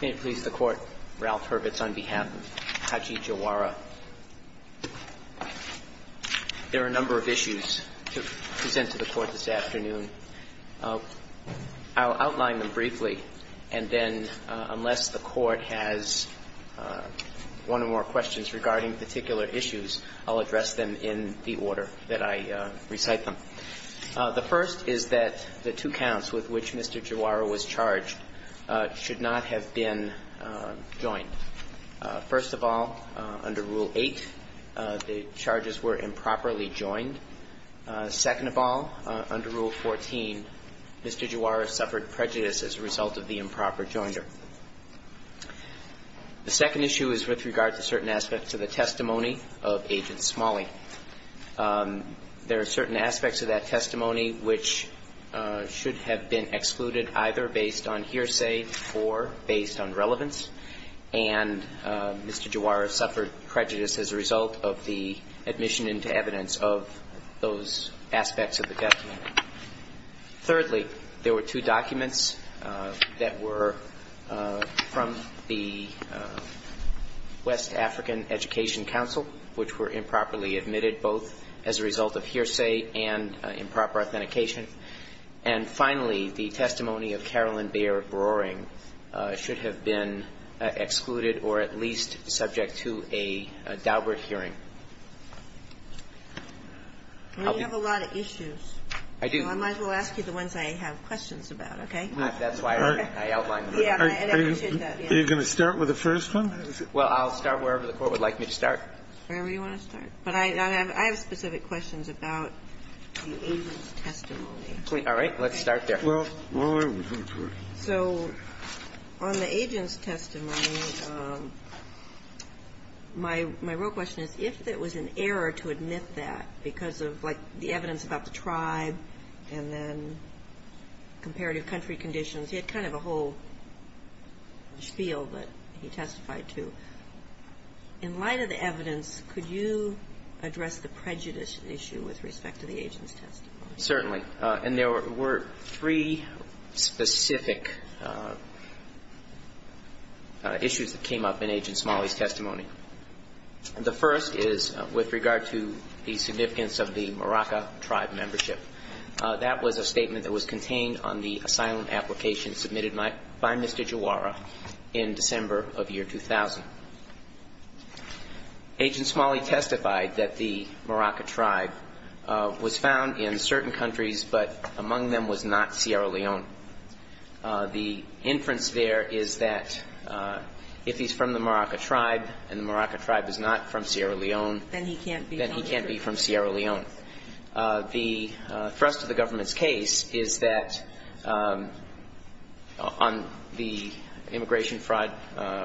Can it please the Court, Ralph Hurwitz on behalf of Haji Jawara. There are a number of issues to present to the Court this afternoon. I'll outline them briefly, and then unless the Court has one or more questions regarding particular issues, I'll address them in the order that I recite them. The first is that the two counts with which Mr. Jawara was charged should not have been joined. First of all, under Rule 8, the charges were improperly joined. Second of all, under Rule 14, Mr. Jawara suffered prejudice as a result of the improper joinder. The second issue is with regard to certain aspects of the testimony of Agent Smalley. There are certain aspects of that testimony which should have been excluded either based on hearsay or based on relevance, and Mr. Jawara suffered prejudice as a result of the admission into evidence of those aspects of the document. Thirdly, there were two documents that were from the West African Education Council which were improperly admitted, both as a result of hearsay and improper authentication. And finally, the testimony of Carolyn Baer-Broering should have been excluded or at least subject to a Daubert hearing. I'll be You have a lot of issues. I do. I might as well ask you the ones I have questions about, okay? That's why I outlined them. Yeah, I appreciate that. Are you going to start with the first one? Well, I'll start wherever the Court would like me to start. Wherever you want to start. But I have specific questions about the agent's testimony. All right. Let's start there. So on the agent's testimony, my real question is, if it was an error to admit that because of, like, the evidence about the tribe and then comparative country conditions. He had kind of a whole spiel that he testified to. In light of the evidence, could you address the prejudice issue with respect to the agent's testimony? Certainly. And there were three specific issues that came up in Agent Smalley's testimony. The first is with regard to the significance of the Maraca tribe membership. That was a statement that was contained on the asylum application submitted by Mr. Jawara in December of year 2000. Agent Smalley testified that the Maraca tribe was found in certain countries, but among them was not Sierra Leone. The inference there is that if he's from the Maraca tribe and the Maraca tribe is not from Sierra Leone, then he can't be from Sierra Leone. The thrust of the government's case is that on the immigration fraud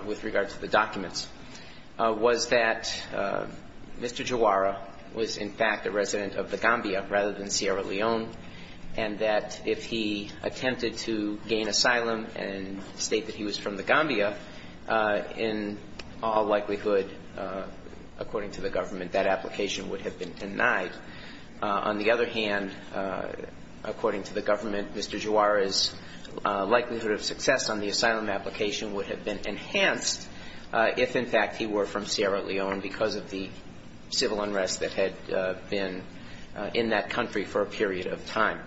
with regard to the documents, was that Mr. Jawara was in fact a resident of the Gambia rather than Sierra Leone, and that if he attempted to gain asylum and state that he was from the Gambia, in all likelihood, according to the government, that application would have been denied. On the other hand, according to the government, Mr. Jawara's likelihood of success on the asylum application would have been enhanced if, in fact, he were from Sierra Leone because of the civil unrest that had been in that country for a period of time.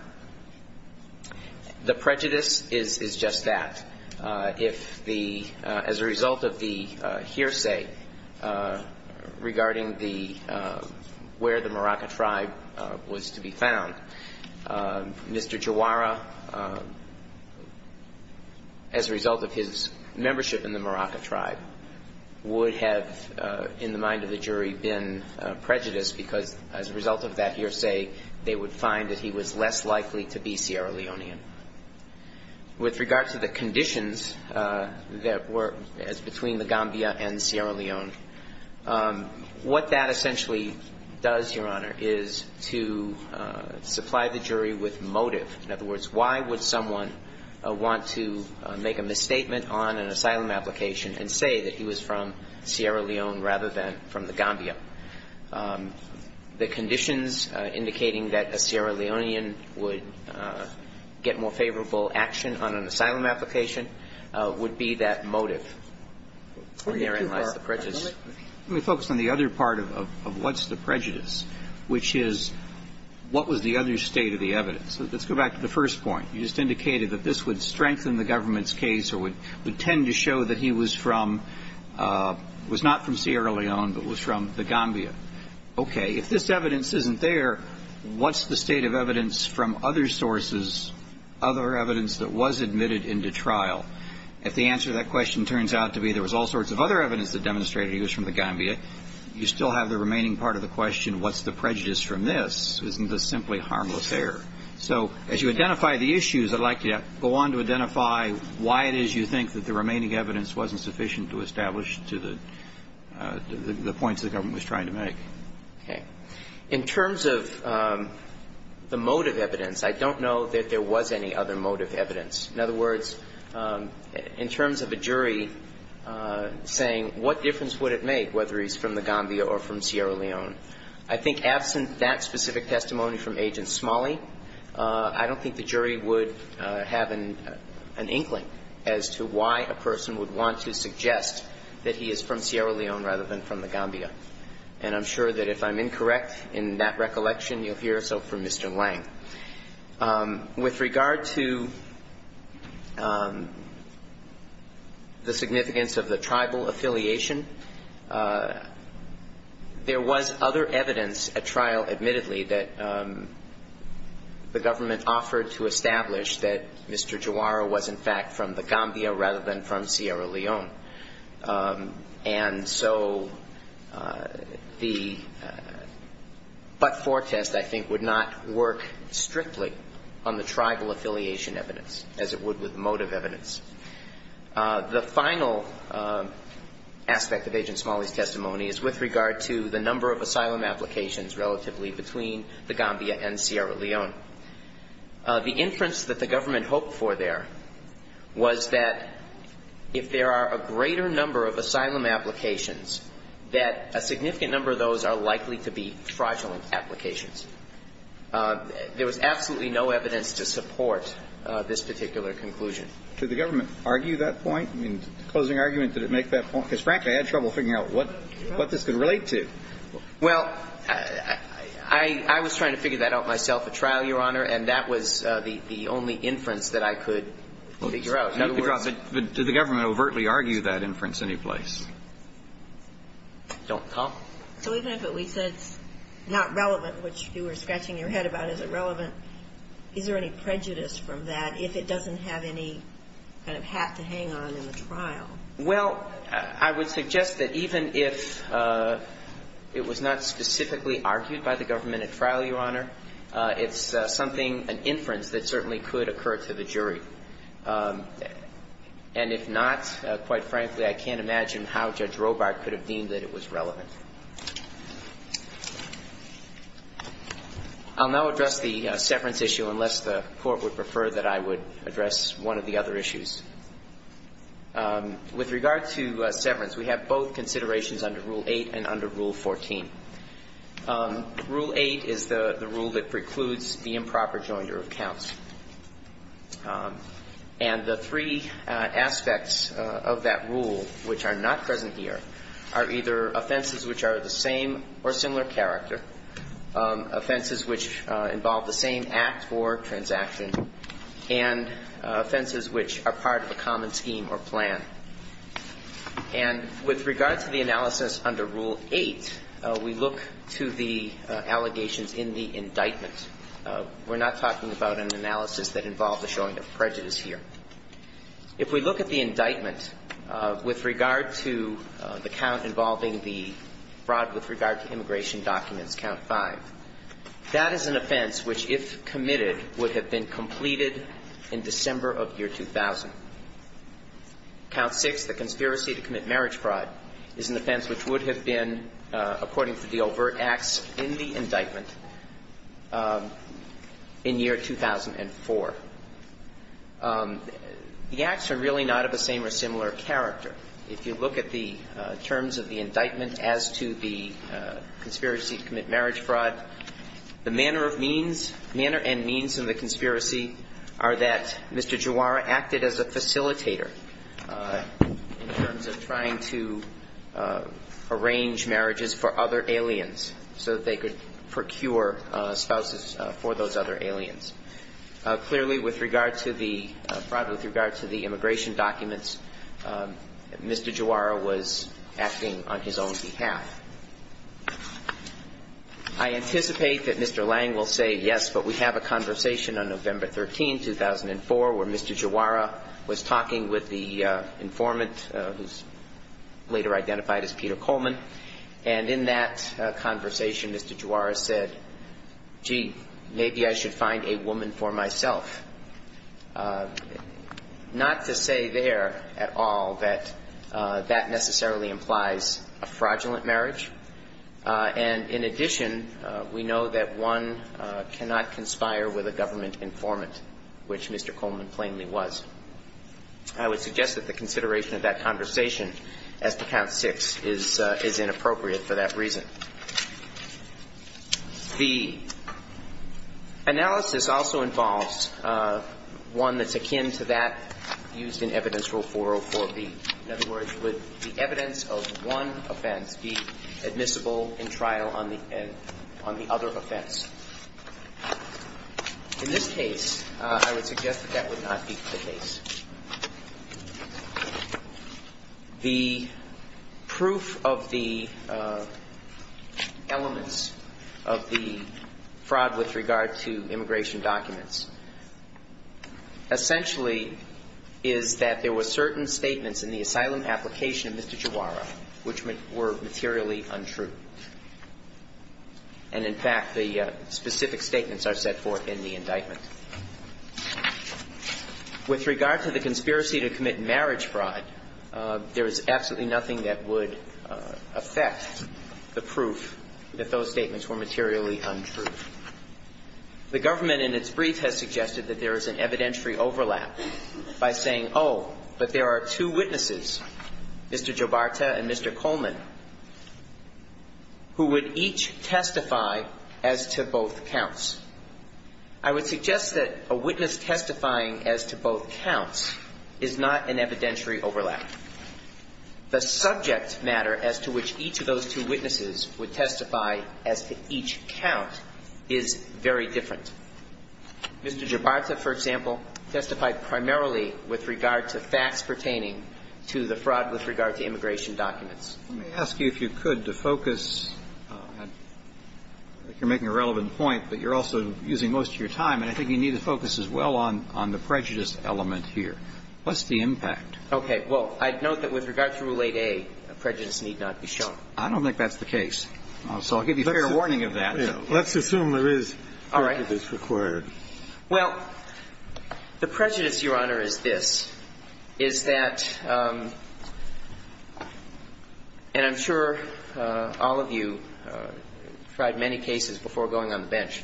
The prejudice is just that. If the, as a result of the hearsay regarding the, where the Maraca tribe was to be found, Mr. Jawara, as a result of his membership in the Maraca tribe, would have, in the mind of the jury, been prejudiced because, as a result of that hearsay, they would find that he was less likely to be Sierra Leonean. With regard to the conditions that were, as between the Gambia and Sierra Leone, what that essentially does, Your Honor, is to supply the jury with motive. In other words, why would someone want to make a misstatement on an asylum application and say that he was from Sierra Leone rather than from the Gambia? The conditions indicating that a Sierra Leonean would get more favorable action on an asylum application would be that motive. And therein lies the prejudice. Let me focus on the other part of what's the prejudice, which is what was the other state of the evidence? So let's go back to the first point. You just indicated that this would strengthen the government's case or would tend to show that he was from, was not from Sierra Leone, but was from the Gambia. Okay, if this evidence isn't there, what's the state of evidence from other sources, other evidence that was admitted into trial? If the answer to that question turns out to be there was all sorts of other evidence that demonstrated he was from the Gambia, you still have the remaining part of the question, what's the prejudice from this? Isn't this simply harmless error? So as you identify the issues, I'd like you to go on to identify why it is you think that the remaining evidence wasn't sufficient to establish to the points the government was trying to make. In terms of the motive evidence, I don't know that there was any other motive evidence. In other words, in terms of a jury saying what difference would it make whether he's from the Gambia or from Sierra Leone? I think absent that specific testimony from Agent Smalley, I don't think the jury would have an inkling as to why a person would want to suggest that he is from Sierra Leone rather than from the Gambia. And I'm sure that if I'm incorrect in that recollection, you'll hear so from Mr. Lang. With regard to the significance of the tribal affiliation, there was other evidence at trial, admittedly, that the government offered to establish that Mr. Juara was, in fact, from the Gambia rather than from Sierra Leone. And so the but-for test, I think, would not work strictly on the tribal affiliation evidence as it would with motive evidence. The final aspect of Agent Smalley's testimony is with regard to the number of asylum applications relatively between the Gambia and Sierra Leone. The inference that the government hoped for there was that if there are a greater number of asylum applications, that a significant number of those are likely to be fraudulent applications. There was absolutely no evidence to support this particular conclusion. Did the government argue that point? In closing argument, did it make that point? Because, frankly, I had trouble figuring out what this could relate to. Well, I was trying to figure that out myself at trial, Your Honor, and that was the only inference that I could figure out. In other words — But did the government overtly argue that inference anyplace? Don't talk. So even if it we said is not relevant, which you were scratching your head about, is it relevant, is there any prejudice from that if it doesn't have any kind of hat to hang on in the trial? Well, I would suggest that even if it was not specifically argued by the government at trial, Your Honor, it's something, an inference that certainly could occur to the jury. And if not, quite frankly, I can't imagine how Judge Robart could have deemed that it was relevant. I'll now address the severance issue unless the Court would prefer that I would address one of the other issues. With regard to severance, we have both considerations under Rule 8 and under Rule 14. Rule 8 is the rule that precludes the improper joinder of counts. And the three aspects of that rule which are not present here are either offenses which are of the same or similar character, offenses which involve the same act or transaction, and offenses which are part of a common scheme or plan. And with regard to the analysis under Rule 8, we look to the allegations in the indictment. We're not talking about an analysis that involves a showing of prejudice here. If we look at the indictment with regard to the count involving the fraud with regard to immigration documents, Count 5, that is an offense which, if committed, would have been completed in December of year 2000. Count 6, the conspiracy to commit marriage fraud, is an offense which would have been according to the overt acts in the indictment in year 2004. The acts are really not of the same or similar character. If you look at the terms of the indictment as to the conspiracy to commit marriage fraud, the manner of means, manner and means of the conspiracy are that Mr. Juara acted as a facilitator in terms of trying to arrange marriages for other aliens so that they could procure spouses for those other aliens. Clearly, with regard to the immigration documents, Mr. Juara was acting on his own behalf. I anticipate that Mr. Lang will say yes, but we have a conversation on November 13, 2004, where Mr. Juara was talking with the informant who's later identified as Peter Coleman. And in that conversation, Mr. Juara said, gee, maybe I should find a woman for myself. Not to say there at all that that necessarily implies a fraudulent marriage. And in addition, we know that one cannot conspire with a government informant, which Mr. Coleman plainly was. I would suggest that the consideration of that conversation as to Count 6 is inappropriate for that reason. The analysis also involves one that's akin to that used in Evidence Rule 404B. In other words, would the evidence of one offense be admissible in trial on the other offense? In this case, I would suggest that that would not be the case. The proof of the elements of the fraud with regard to immigration documents essentially is that there were certain statements in the asylum application of Mr. Juara which were materially untrue. And in fact, the specific statements are set forth in the indictment. With regard to the conspiracy to commit marriage fraud, there is absolutely nothing that would affect the proof if those statements were materially untrue. The government in its brief has suggested that there is an evidentiary overlap by saying, oh, but there are two witnesses, Mr. Giobarta and Mr. Coleman. Who would each testify as to both counts. I would suggest that a witness testifying as to both counts is not an evidentiary overlap. The subject matter as to which each of those two witnesses would testify as to each count is very different. Mr. Giobarta, for example, testified primarily with regard to facts pertaining to the fraud with regard to immigration documents. Let me ask you, if you could, to focus, you're making a relevant point, but you're also using most of your time, and I think you need to focus as well on the prejudice element here. What's the impact? Okay. Well, I'd note that with regard to Rule 8a, prejudice need not be shown. I don't think that's the case. So I'll give you fair warning of that. Let's assume there is prejudice required. Well, the prejudice, Your Honor, is this, is that, and I'm sure all of you tried many cases before going on the bench.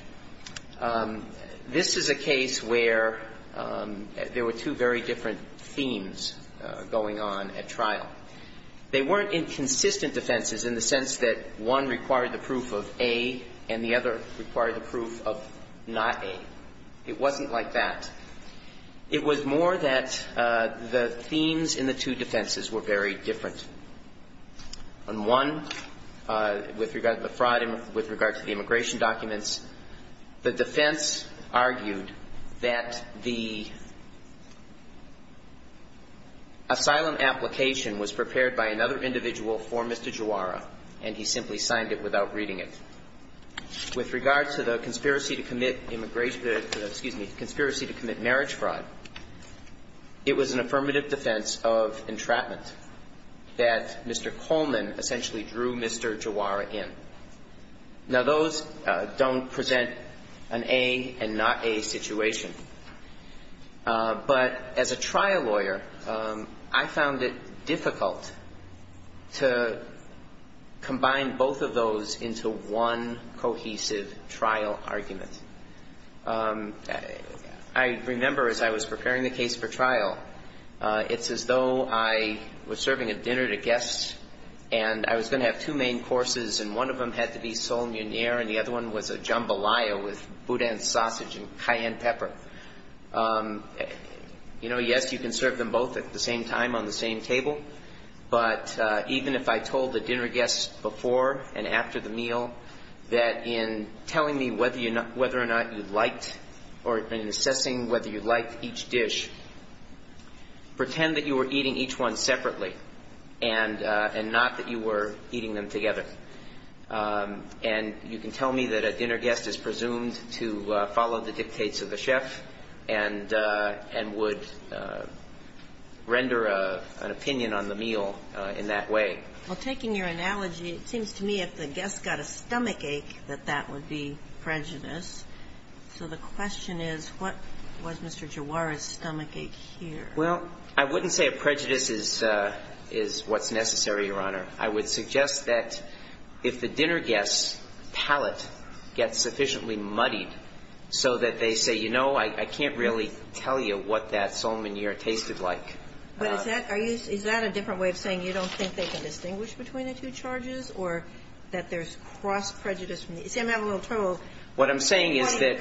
This is a case where there were two very different themes going on at trial. They weren't inconsistent defenses in the sense that one required the proof of A and the other required the proof of not A. It wasn't like that. It was more that the themes in the two defenses were very different. On one, with regard to the fraud, with regard to the immigration documents, the defense argued that the asylum application was prepared by another individual for Mr. Giowara, and he simply signed it without reading it. With regard to the conspiracy to commit immigration, excuse me, conspiracy to commit marriage fraud, it was an affirmative defense of entrapment that Mr. Coleman essentially drew Mr. Giowara in. Now, those don't present an A and not A situation. But as a trial lawyer, I found it difficult to combine both of those into one cohesive trial argument. I remember as I was preparing the case for trial, it's as though I was serving a dinner to guests, and I was going to have two main courses, and one of them had to be sole muneer, and the other one was a jambalaya with boudin sausage and cayenne pepper. You know, yes, you can serve them both at the same time on the same table, but even if I told the dinner guests before and after the meal that in telling me whether or not you liked or in assessing whether you liked each dish, pretend that you were eating each one separately and not that you were eating them together. And you can tell me that a dinner guest is presumed to follow the dictates of the chef and would render an opinion on the meal in that way. Well, taking your analogy, it seems to me if the guest got a stomachache, that that would be prejudice. So the question is, what was Mr. Giowara's stomachache here? Well, I wouldn't say a prejudice is what's necessary, Your Honor. I would suggest that if the dinner guest's palate gets sufficiently muddied so that they say, you know, I can't really tell you what that sole muneer tasted like. But is that a different way of saying you don't think they can distinguish between the two charges or that there's cross prejudice? You see, I'm having a little trouble. What I'm saying is that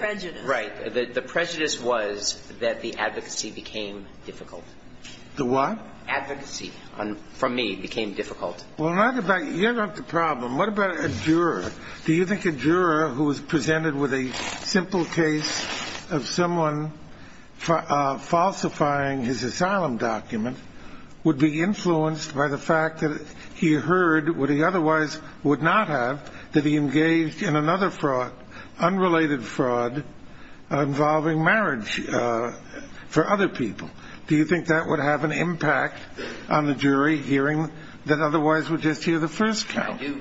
the prejudice was that the advocacy became difficult. The what? Advocacy from me became difficult. Well, not about you. You're not the problem. What about a juror? Do you think a juror who was presented with a simple case of someone falsifying his asylum document would be influenced by the fact that he heard what he otherwise would not have, that he engaged in another fraud, unrelated fraud involving marriage for other people? Do you think that would have an impact on the jury hearing that otherwise would just hear the first count? I do.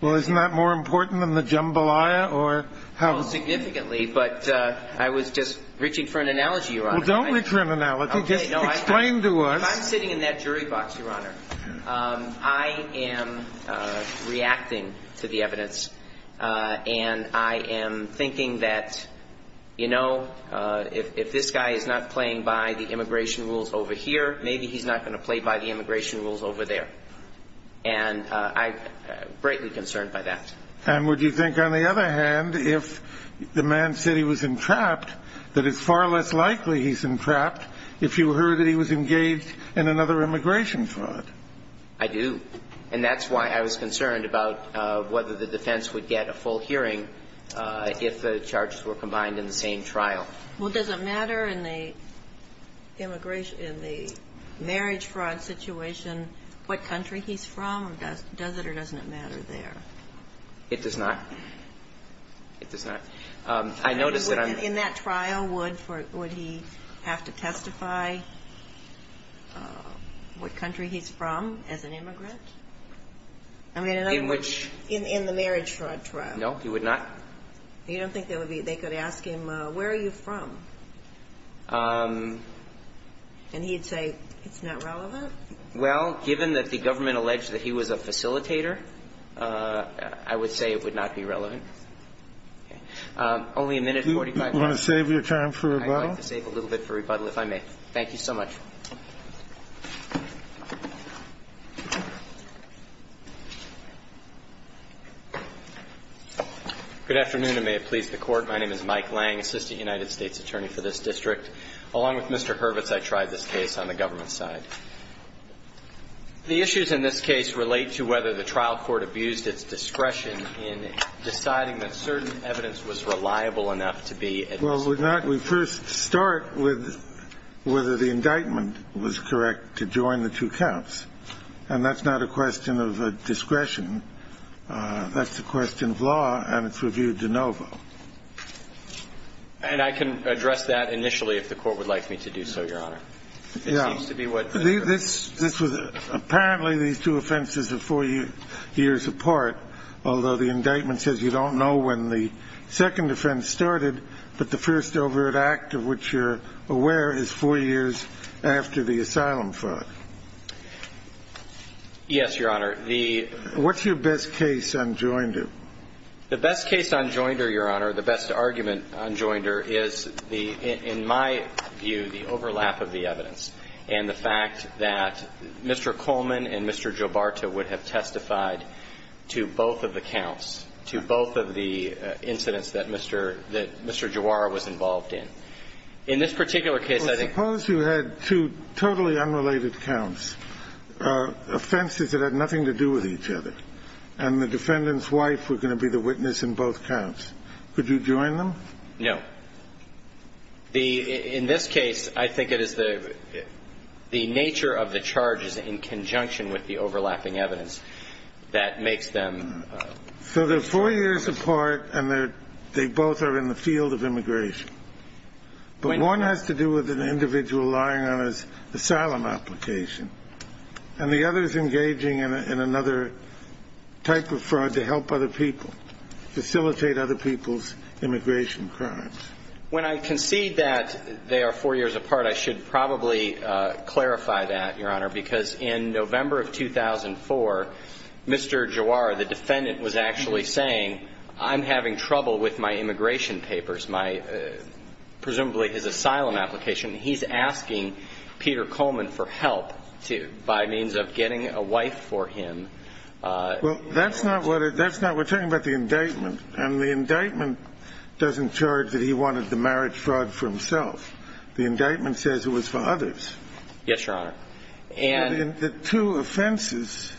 Well, isn't that more important than the jambalaya or how? Significantly. But I was just reaching for an analogy, Your Honor. Well, don't reach for an analogy. Just explain to us. I'm sitting in that jury box, Your Honor. I am reacting to the evidence. And I am thinking that, you know, if this guy is not playing by the immigration rules over here, maybe he's not going to play by the immigration rules over there. And I'm greatly concerned by that. And would you think, on the other hand, if the man said he was entrapped, that it's far less likely he's entrapped if you heard that he was engaged in another immigration fraud? I do. And that's why I was concerned about whether the defense would get a full hearing if the charges were combined in the same trial. Well, does it matter in the marriage fraud situation what country he's from? Does it or doesn't it matter there? It does not. It does not. I noticed that I'm In that trial, would he have to testify what country he's from as an immigrant? In which? In the marriage fraud trial. No, he would not. You don't think they could ask him, where are you from? And he'd say, it's not relevant? Well, given that the government alleged that he was a facilitator, I would say it would not be relevant. Only a minute and 45 seconds. You want to save your time for rebuttal? I'd like to save a little bit for rebuttal, if I may. Thank you so much. Good afternoon, and may it please the Court. My name is Mike Lang, Assistant United States Attorney for this district. Along with Mr. Hurwitz, I tried this case on the government side. The issues in this case relate to whether the trial court abused its discretion in deciding that certain evidence was reliable enough to be at this point. Well, we first start with whether the indictment was correct to join the two counts. And that's not a question of discretion. That's a question of law, and it's reviewed de novo. And I can address that initially if the Court would like me to do so, Your Honor. It seems to be what the – This was – apparently these two offenses are four years apart, although the indictment says you don't know when the second offense started, but the first overt act of which you're aware is four years after the asylum fraud. Yes, Your Honor. The – What's your best case on Joinder? The best case on Joinder, Your Honor, the best argument on Joinder, is the – is the fact that Mr. Coleman and Mr. Giobarta would have testified to both of the counts, to both of the incidents that Mr. – that Mr. Giobarta was involved in. In this particular case, I think – Well, suppose you had two totally unrelated counts, offenses that had nothing to do with each other, and the defendant's wife were going to be the witness in both counts. Could you join them? No. But the – in this case, I think it is the nature of the charges in conjunction with the overlapping evidence that makes them – So they're four years apart, and they're – they both are in the field of immigration. But one has to do with an individual lying on his asylum application, and the other is engaging in another type of fraud to help other people, facilitate other people's immigration crimes. When I concede that they are four years apart, I should probably clarify that, Your Honor, because in November of 2004, Mr. Giobarta, the defendant, was actually saying, I'm having trouble with my immigration papers, my – presumably his asylum application. He's asking Peter Coleman for help to – by means of getting a wife for him. Well, that's not what it – that's not – we're talking about the indictment. And the indictment doesn't charge that he wanted the marriage fraud for himself. The indictment says it was for others. Yes, Your Honor. And – The two offenses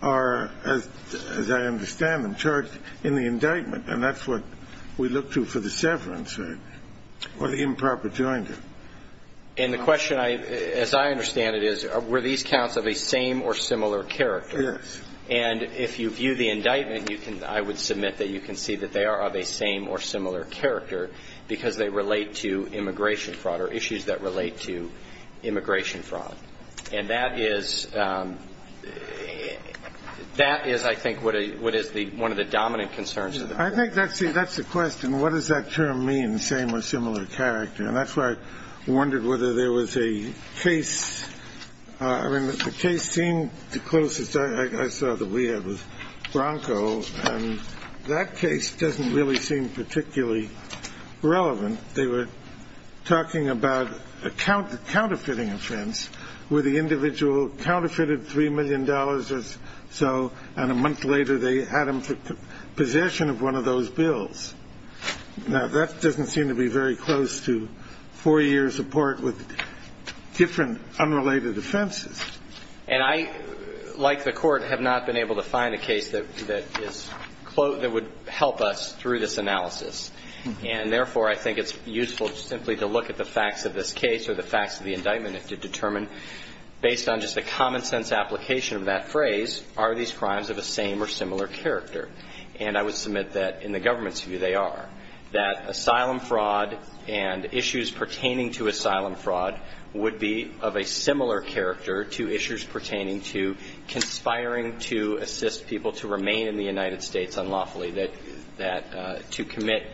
are, as I understand them, charged in the indictment, and that's what we look to for the severance, right, or the improper jointer. And the question, as I understand it, is, were these counts of a same or similar character? Yes. And if you view the indictment, you can – I would submit that you can see that they are of a same or similar character because they relate to immigration fraud or issues that relate to immigration fraud. And that is – that is, I think, what is the – one of the dominant concerns. I think that's the – that's the question. What does that term mean, same or similar character? And that's why I wondered whether there was a case – I mean, the case seemed the closest I saw that we had was Bronco. And that case doesn't really seem particularly relevant. They were talking about a counterfeiting offense where the individual counterfeited $3 million or so, and a month later they had him for possession of one of those bills. Now, that doesn't seem to be very close to four years of court with different unrelated offenses. And I, like the Court, have not been able to find a case that is – that would help us through this analysis. And therefore, I think it's useful simply to look at the facts of this case or the facts of the indictment and to determine, based on just a common-sense application of that phrase, are these crimes of a same or similar character? And I would submit that, in the government's view, they are. That asylum fraud and issues pertaining to asylum fraud would be of a similar character to issues pertaining to conspiring to assist people to remain in the United States unlawfully, that – to commit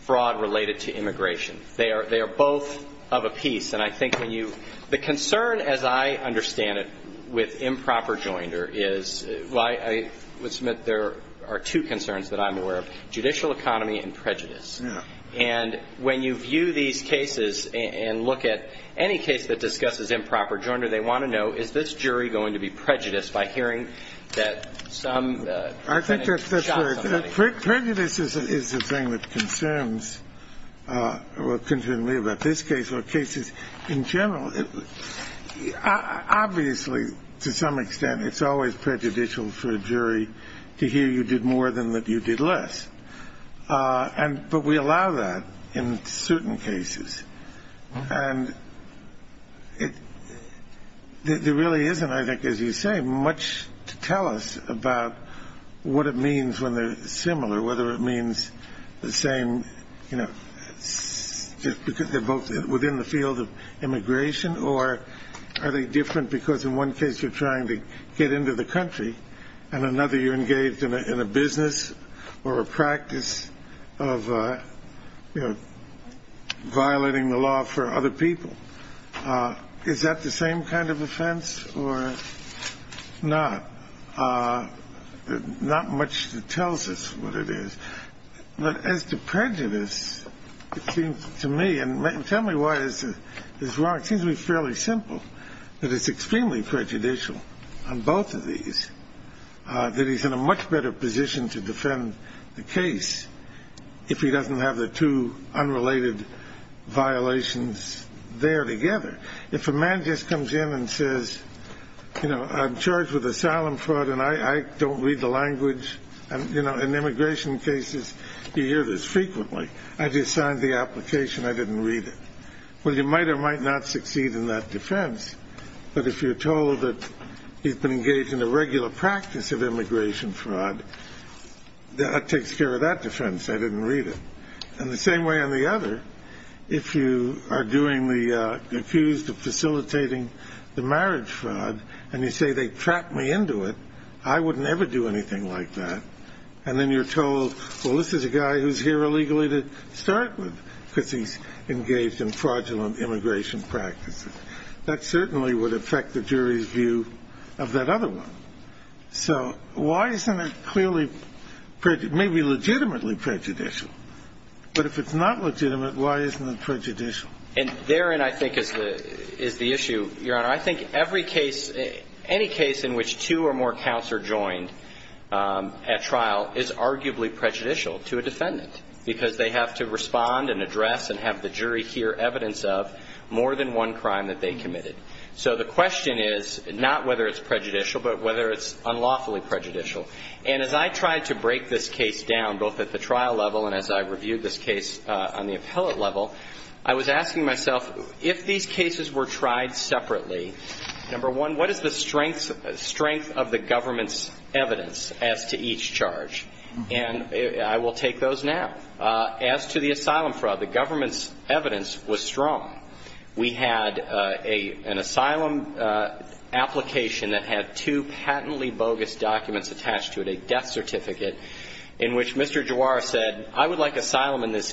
fraud related to immigration. They are – they are both of a piece. And I think when you – the concern, as I understand it, with improper joinder is – I would submit there are two concerns that I'm aware of, judicial economy and prejudice. And when you view these cases and look at any case that discusses improper joinder, they want to know, is this jury going to be prejudiced by hearing that some defendant shot somebody? I think that's right. Prejudice is the thing that concerns – or concerns me about this case or cases in general. Obviously, to some extent, it's always prejudicial for a jury to hear you did more than that you did less. And – but we allow that in certain cases. And it – there really isn't, I think, as you say, much to tell us about what it means when they're similar, whether it means the same – you know, they're both within the field of immigration, or are they different because in one case you're trying to get into the country and another you're engaged in a business or a practice of, you know, violating the law for other people. Is that the same kind of offense or not? Not much that tells us what it is. But as to prejudice, it seems to me – and tell me why it's wrong. It seems to me fairly simple, that it's extremely prejudicial on both of these, that he's in a much better position to defend the case if he doesn't have the two unrelated violations there together. If a man just comes in and says, you know, I'm charged with asylum fraud and I don't read the language – you know, in immigration cases you hear this frequently, I just signed the application, I didn't read it. Well, you might or might not succeed in that defense. But if you're told that he's been engaged in a regular practice of immigration fraud, that takes care of that defense, I didn't read it. And the same way on the other, if you are doing the – accused of facilitating the marriage fraud and you say, they trapped me into it, I wouldn't ever do anything like that. And then you're told, well, this is a guy who's here illegally to start with because he's engaged in fraudulent immigration practices. That certainly would affect the jury's view of that other one. So why isn't it clearly – maybe legitimately prejudicial, but if it's not legitimate, why isn't it prejudicial? And therein, I think, is the issue, Your Honor. I think every case – any case in which two or more counts are joined at trial is arguably prejudicial to a defendant because they have to respond and address and have the jury hear evidence of more than one crime that they committed. So the question is not whether it's prejudicial, but whether it's unlawfully prejudicial. And as I tried to break this case down, both at the trial level and as I reviewed this case on the appellate level, I was asking myself, if these cases were tried separately, number one, what is the strength of the government's evidence as to each charge? And I will take those now. As to the asylum fraud, the government's evidence was strong. We had an asylum application that had two patently bogus documents attached to it, a death certificate in which Mr. Giroir said, I would like asylum in this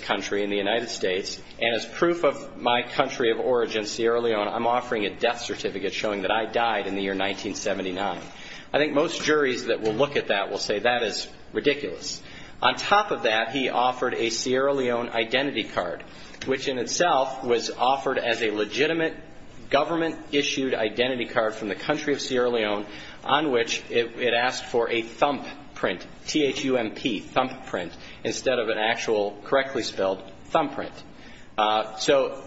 country, in the United States, and as proof of my country of origin, Sierra Leone, I'm offering a death certificate showing that I died in the year 1979. I think most juries that will look at that will say that is ridiculous. On top of that, he offered a Sierra Leone identity card, which in itself was offered as a legitimate government-issued identity card from the country of Sierra Leone, on which it asked for a thumbprint, T-H-U-M-P, thumbprint, instead of an actual correctly spelled thumbprint. So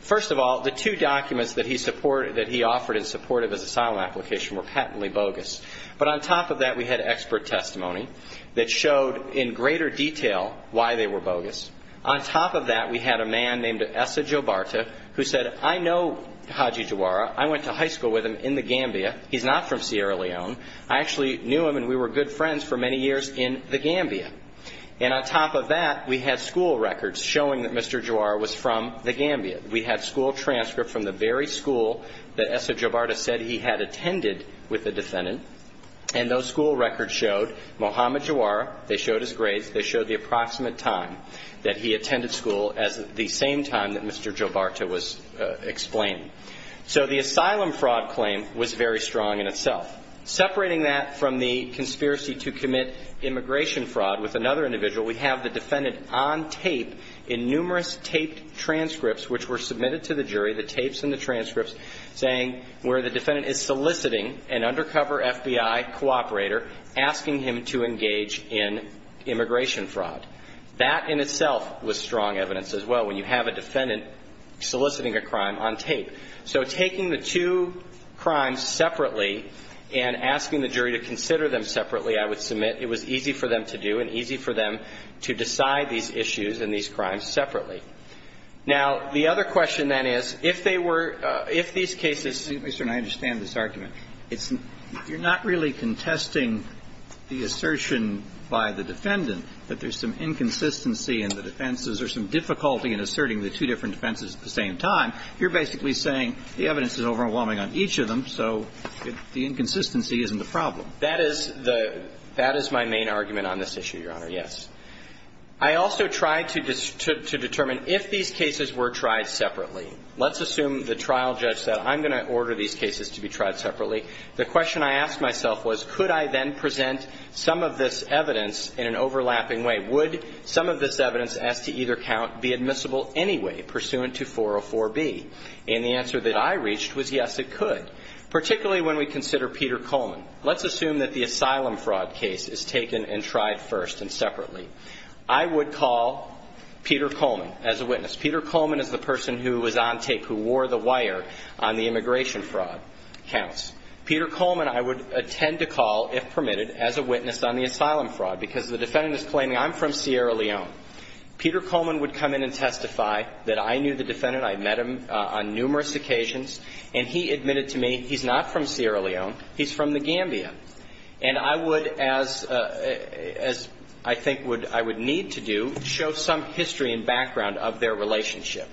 first of all, the two documents that he offered in support of his asylum application were patently bogus. But on top of that, we had expert testimony that showed in greater detail why they were bogus. On top of that, we had a man named Esa Jobarta who said, I know Haji Giroir. I went to high school with him in the Gambia. He's not from Sierra Leone. I actually knew him, and we were good friends for many years in the Gambia. And on top of that, we had school records showing that Mr. Giroir was from the Gambia. We had school transcripts from the very school that Esa Jobarta said he had attended with the defendant, and those school records showed Mohamed Giroir. They showed his grades. They showed the approximate time that he attended school as the same time that Mr. Jobarta was explained. So the asylum fraud claim was very strong in itself. Separating that from the conspiracy to commit immigration fraud with another individual, we have the defendant on tape in numerous taped transcripts which were submitted to the jury, the tapes and the transcripts, saying where the defendant is soliciting an undercover FBI cooperator, asking him to engage in immigration fraud. That in itself was strong evidence as well, when you have a defendant soliciting a crime on tape. So taking the two crimes separately and asking the jury to consider them separately, I would submit, it was easy for them to do and easy for them to decide these issues and these crimes separately. Now, the other question, then, is, if they were – if these cases – Mr. Stern, I understand this argument. It's – you're not really contesting the assertion by the defendant that there's some inconsistency in the defenses or some difficulty in asserting the two different defenses at the same time. You're basically saying the evidence is overwhelming on each of them, so the inconsistency isn't a problem. That is the – that is my main argument on this issue, Your Honor, yes. I also tried to determine if these cases were tried separately. Let's assume the trial judge said, I'm going to order these cases to be tried separately. The question I asked myself was, could I then present some of this evidence in an overlapping way? Would some of this evidence, as to either count, be admissible anyway, pursuant to 404B? And the answer that I reached was, yes, it could, particularly when we consider Peter Coleman. Let's assume that the asylum fraud case is taken and tried first and separately. I would call Peter Coleman as a witness. Peter Coleman is the person who was on tape, who wore the wire on the immigration fraud counts. Peter Coleman I would attend to call, if permitted, as a witness on the asylum fraud, because the defendant is claiming, I'm from Sierra Leone. Peter Coleman would come in and testify that I knew the defendant, I met him on numerous occasions, and he admitted to me, he's not from Sierra Leone, he's from The Gambia. And I would, as I think I would need to do, show some history and background of their relationship.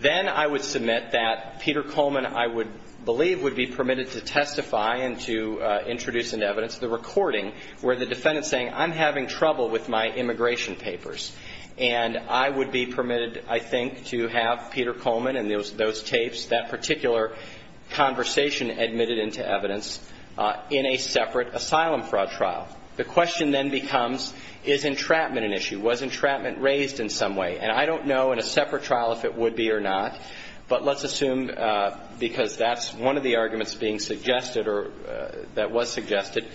Then I would submit that Peter Coleman, I would believe, would be permitted to testify and to introduce into evidence the recording where the defendant is saying, I'm having trouble with my immigration papers. And I would be permitted, I think, to have Peter Coleman and those tapes, that particular conversation admitted into evidence in a separate asylum fraud trial. The question then becomes, is entrapment an issue? Was entrapment raised in some way? And I don't know in a separate trial if it would be or not, but let's assume, because that's one of the arguments being suggested or that was suggested,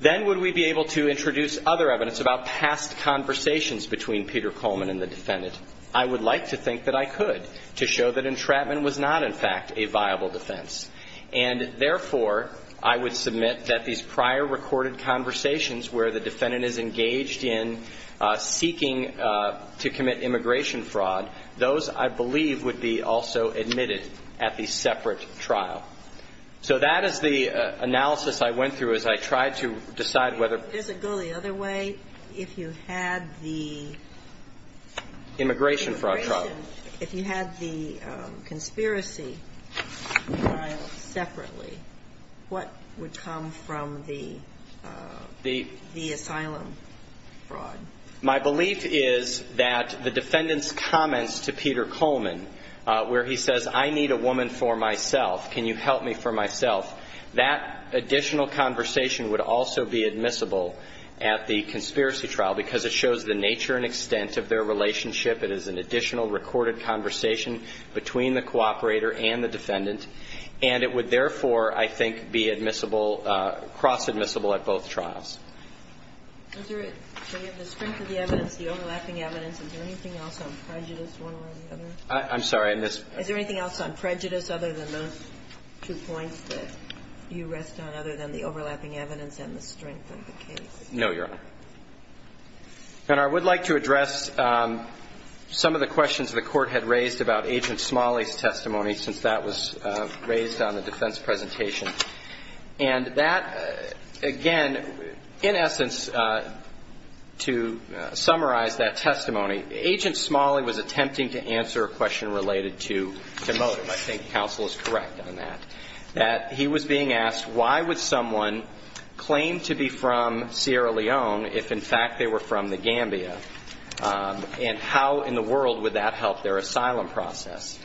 then would we be able to introduce other evidence about past conversations between Peter Coleman and the defendant? I would like to think that I could to show that entrapment was not, in fact, a viable defense. And, therefore, I would submit that these prior recorded conversations where the defendant is engaged in seeking to commit immigration fraud, those, I believe, would be also admitted at the separate trial. So that is the analysis I went through as I tried to decide whether. Does it go the other way? If you had the... Immigration fraud trial. If you had the conspiracy trial separately, what would come from the... The... The asylum fraud. My belief is that the defendant's comments to Peter Coleman where he says, I need a woman for myself, can you help me for myself, that additional conversation would also be admissible at the conspiracy trial because it shows the nature and extent of their relationship. It is an additional recorded conversation between the cooperator and the defendant, and it would, therefore, I think, be admissible, cross-admissible at both trials. Is there... Do you have the strength of the evidence, the overlapping evidence? Is there anything else on prejudice, one way or the other? I'm sorry. I missed... Is there anything else on prejudice other than those two points that you rest on, other than the overlapping evidence and the strength of the case? No, Your Honor. And I would like to address some of the questions the Court had raised about Agent Smalley's testimony since that was raised on the defense presentation. And that, again, in essence, to summarize that testimony, Agent Smalley was attempting to answer a question related to motive. I think counsel is correct on that, that he was being asked, why would someone claim to be from Sierra Leone if, in fact, they were from the Gambia, and how in the world would that help their asylum process?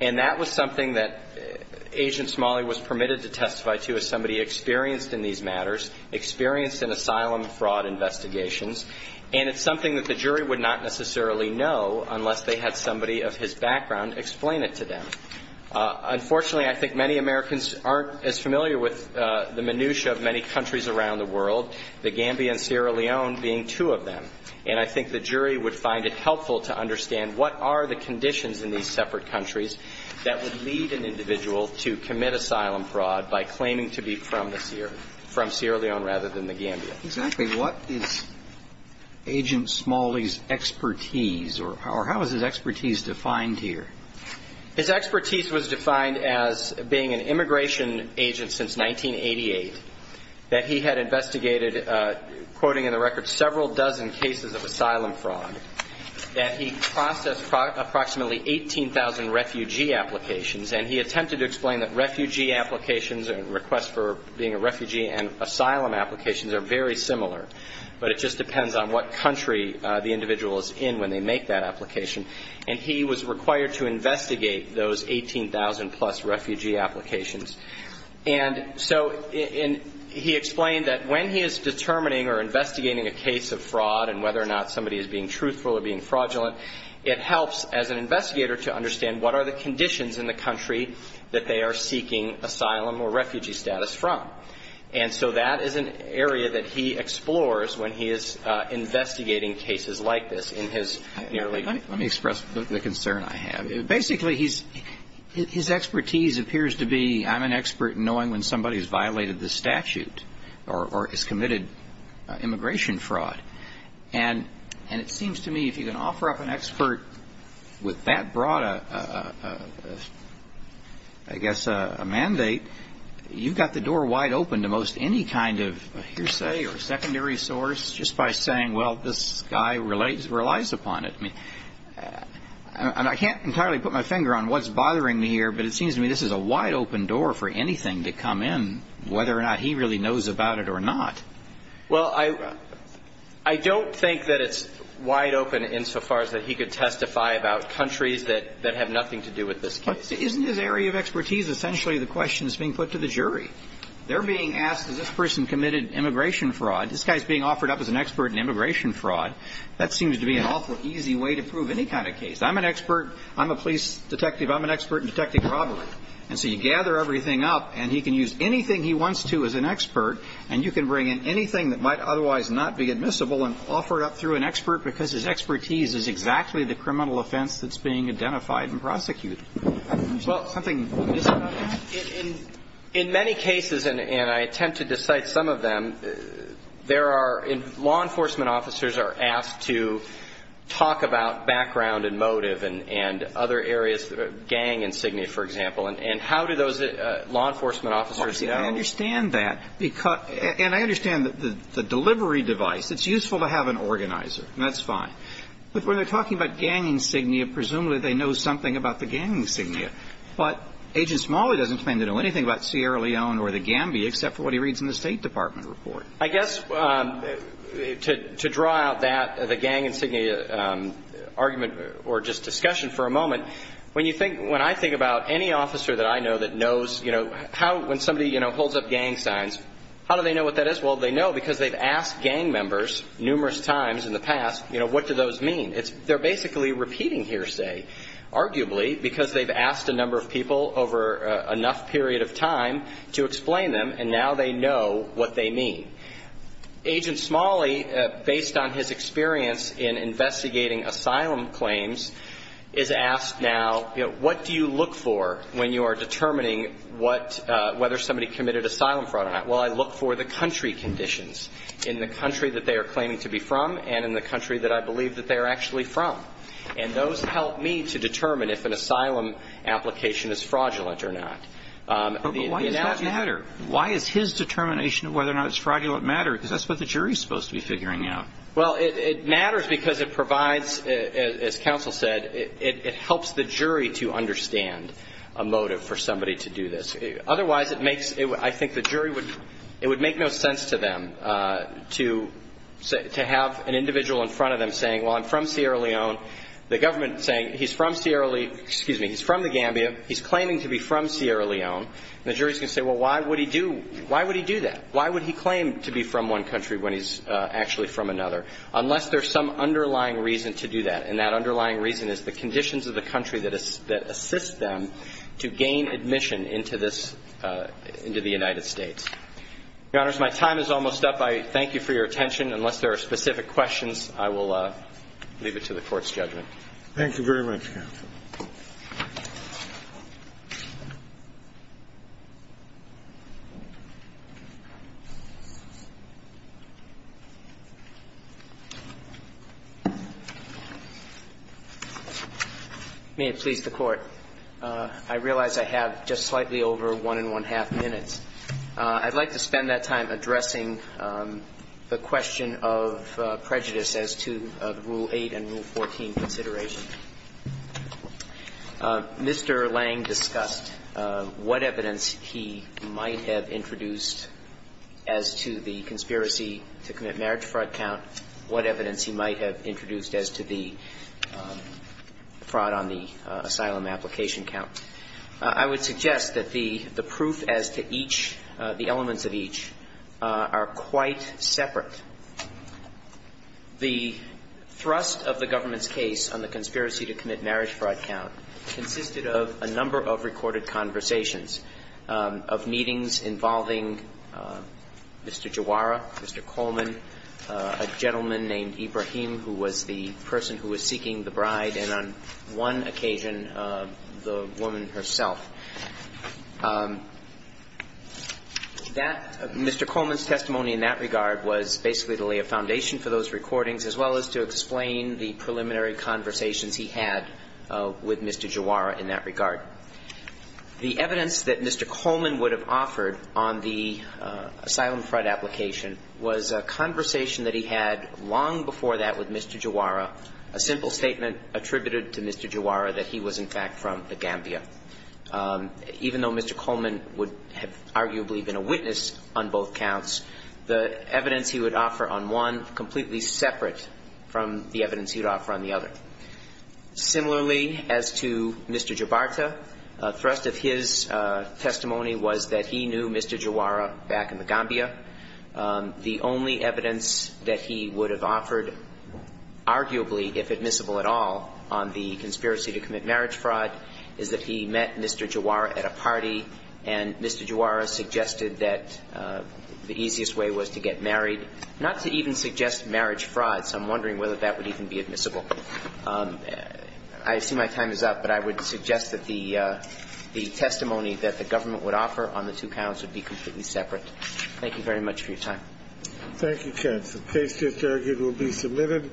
And that was something that Agent Smalley was permitted to testify to as somebody experienced in these matters, experienced in asylum fraud investigations. And it's something that the jury would not necessarily know unless they had somebody of his background explain it to them. Unfortunately, I think many Americans aren't as familiar with the minutia of many countries around the world, the Gambia and Sierra Leone being two of them. And I think the jury would find it helpful to understand what are the conditions in these separate countries that would lead an individual to commit asylum fraud by claiming to be from Sierra Leone rather than the Gambia. Exactly. What is Agent Smalley's expertise, or how is his expertise defined here? His expertise was defined as being an immigration agent since 1988 that he had investigated, quoting in the record, several dozen cases of asylum fraud, that he processed approximately 18,000 refugee applications, and he attempted to explain that refugee applications and requests for being a refugee and asylum applications are very similar, but it just depends on what country the individual is in when they make that application. And he was required to investigate those 18,000-plus refugee applications. And so he explained that when he is determining or investigating a case of fraud and whether or not somebody is being truthful or being fraudulent, it helps as an investigator to understand what are the conditions in the country that they are seeking asylum or refugee status from. And so that is an area that he explores when he is investigating cases like this in his nearly 20 years. Let me express the concern I have. Basically, his expertise appears to be, I'm an expert in knowing when somebody has violated the statute or has committed immigration fraud. And it seems to me if you can offer up an expert with that broad, I guess, a mandate, you've got the door wide open to most any kind of hearsay or secondary source just by saying, well, this guy relies upon it. I mean, I can't entirely put my finger on what's bothering me here, but it seems to me this is a wide open door for anything to come in, whether or not he really knows about it or not. Well, I don't think that it's wide open insofar as that he could testify about countries that have nothing to do with this case. Isn't his area of expertise essentially the question that's being put to the jury? They're being asked, has this person committed immigration fraud? This guy is being offered up as an expert in immigration fraud. That seems to be an awful easy way to prove any kind of case. I'm an expert. I'm a police detective. I'm an expert in detecting robbery. And so you gather everything up, and he can use anything he wants to as an expert, and you can bring in anything that might otherwise not be admissible and offer it up through an expert because his expertise is exactly the criminal offense that's being identified and prosecuted. Well, something missing on that? In many cases, and I attempted to cite some of them, there are law enforcement officers are asked to talk about background and motive and other areas, gang insignia, for example. And how do those law enforcement officers know? I understand that. And I understand the delivery device. It's useful to have an organizer, and that's fine. But when they're talking about gang insignia, presumably they know something about the gang insignia. But Agent Smalley doesn't claim to know anything about Sierra Leone or the Gambia except for what he reads in the State Department report. I guess to draw out that, the gang insignia argument or just discussion for a moment, when I think about any officer that I know that knows, you know, when somebody holds up gang signs, how do they know what that is? Well, they know because they've asked gang members numerous times in the past, you know, what do those mean. They're basically repeating hearsay, arguably, because they've asked a number of people over enough period of time to explain them and now they know what they mean. Agent Smalley, based on his experience in investigating asylum claims, is asked now, you know, what do you look for when you are determining whether somebody committed asylum fraud or not? Well, I look for the country conditions in the country that they are claiming to be from and in the country that I believe that they are actually from. And those help me to determine if an asylum application is fraudulent or not. But why does that matter? Why is his determination of whether or not it's fraudulent matter? Because that's what the jury is supposed to be figuring out. Well, it matters because it provides, as counsel said, it helps the jury to understand a motive for somebody to do this. Otherwise, it makes – I think the jury would – it would make no sense to them to have an individual in front of them saying, well, I'm from Sierra Leone, the government saying he's from Sierra Leone – excuse me, he's from the Gambia, he's claiming to be from Sierra Leone. And the jury is going to say, well, why would he do – why would he do that? Why would he claim to be from one country when he's actually from another? Unless there's some underlying reason to do that, and that underlying reason is the conditions of the country that assist them to gain admission into this – into the United States. Your Honors, my time is almost up. I thank you for your attention. Unless there are specific questions, I will leave it to the Court's judgment. Thank you very much, counsel. May it please the Court. I realize I have just slightly over one and one-half minutes. I'd like to spend that time addressing the question of prejudice as to the Rule 14 consideration. Mr. Lange discussed what evidence he might have introduced as to the conspiracy to commit marriage fraud count, what evidence he might have introduced as to the fraud on the asylum application count. I would suggest that the proof as to each – the elements of each are quite separate. The thrust of the government's case on the conspiracy to commit marriage fraud count consisted of a number of recorded conversations, of meetings involving Mr. Jawara, Mr. Coleman, a gentleman named Ibrahim who was the person who was seeking the bride, and on one occasion, the woman herself. That – Mr. Coleman's testimony in that regard was basically the lay of foundation for those recordings as well as to explain the preliminary conversations he had with Mr. Jawara in that regard. The evidence that Mr. Coleman would have offered on the asylum fraud application was a conversation that he had long before that with Mr. Jawara, a simple statement attributed to Mr. Jawara that he was, in fact, from The Gambia. Even though Mr. Coleman would have arguably been a witness on both counts, the evidence he would offer on one, completely separate from the evidence he would offer on the other. Similarly, as to Mr. Jabarta, a thrust of his testimony was that he knew Mr. Jawara back in The Gambia. The only evidence that he would have offered arguably, if admissible at all, on the two counts, was that he met Mr. Jawara at a party, and Mr. Jawara suggested that the easiest way was to get married. Not to even suggest marriage fraud, so I'm wondering whether that would even be admissible. I assume my time is up, but I would suggest that the testimony that the government would offer on the two counts would be completely separate. Thank you very much for your time. Thank you, Chancellor. Case just argued will be submitted.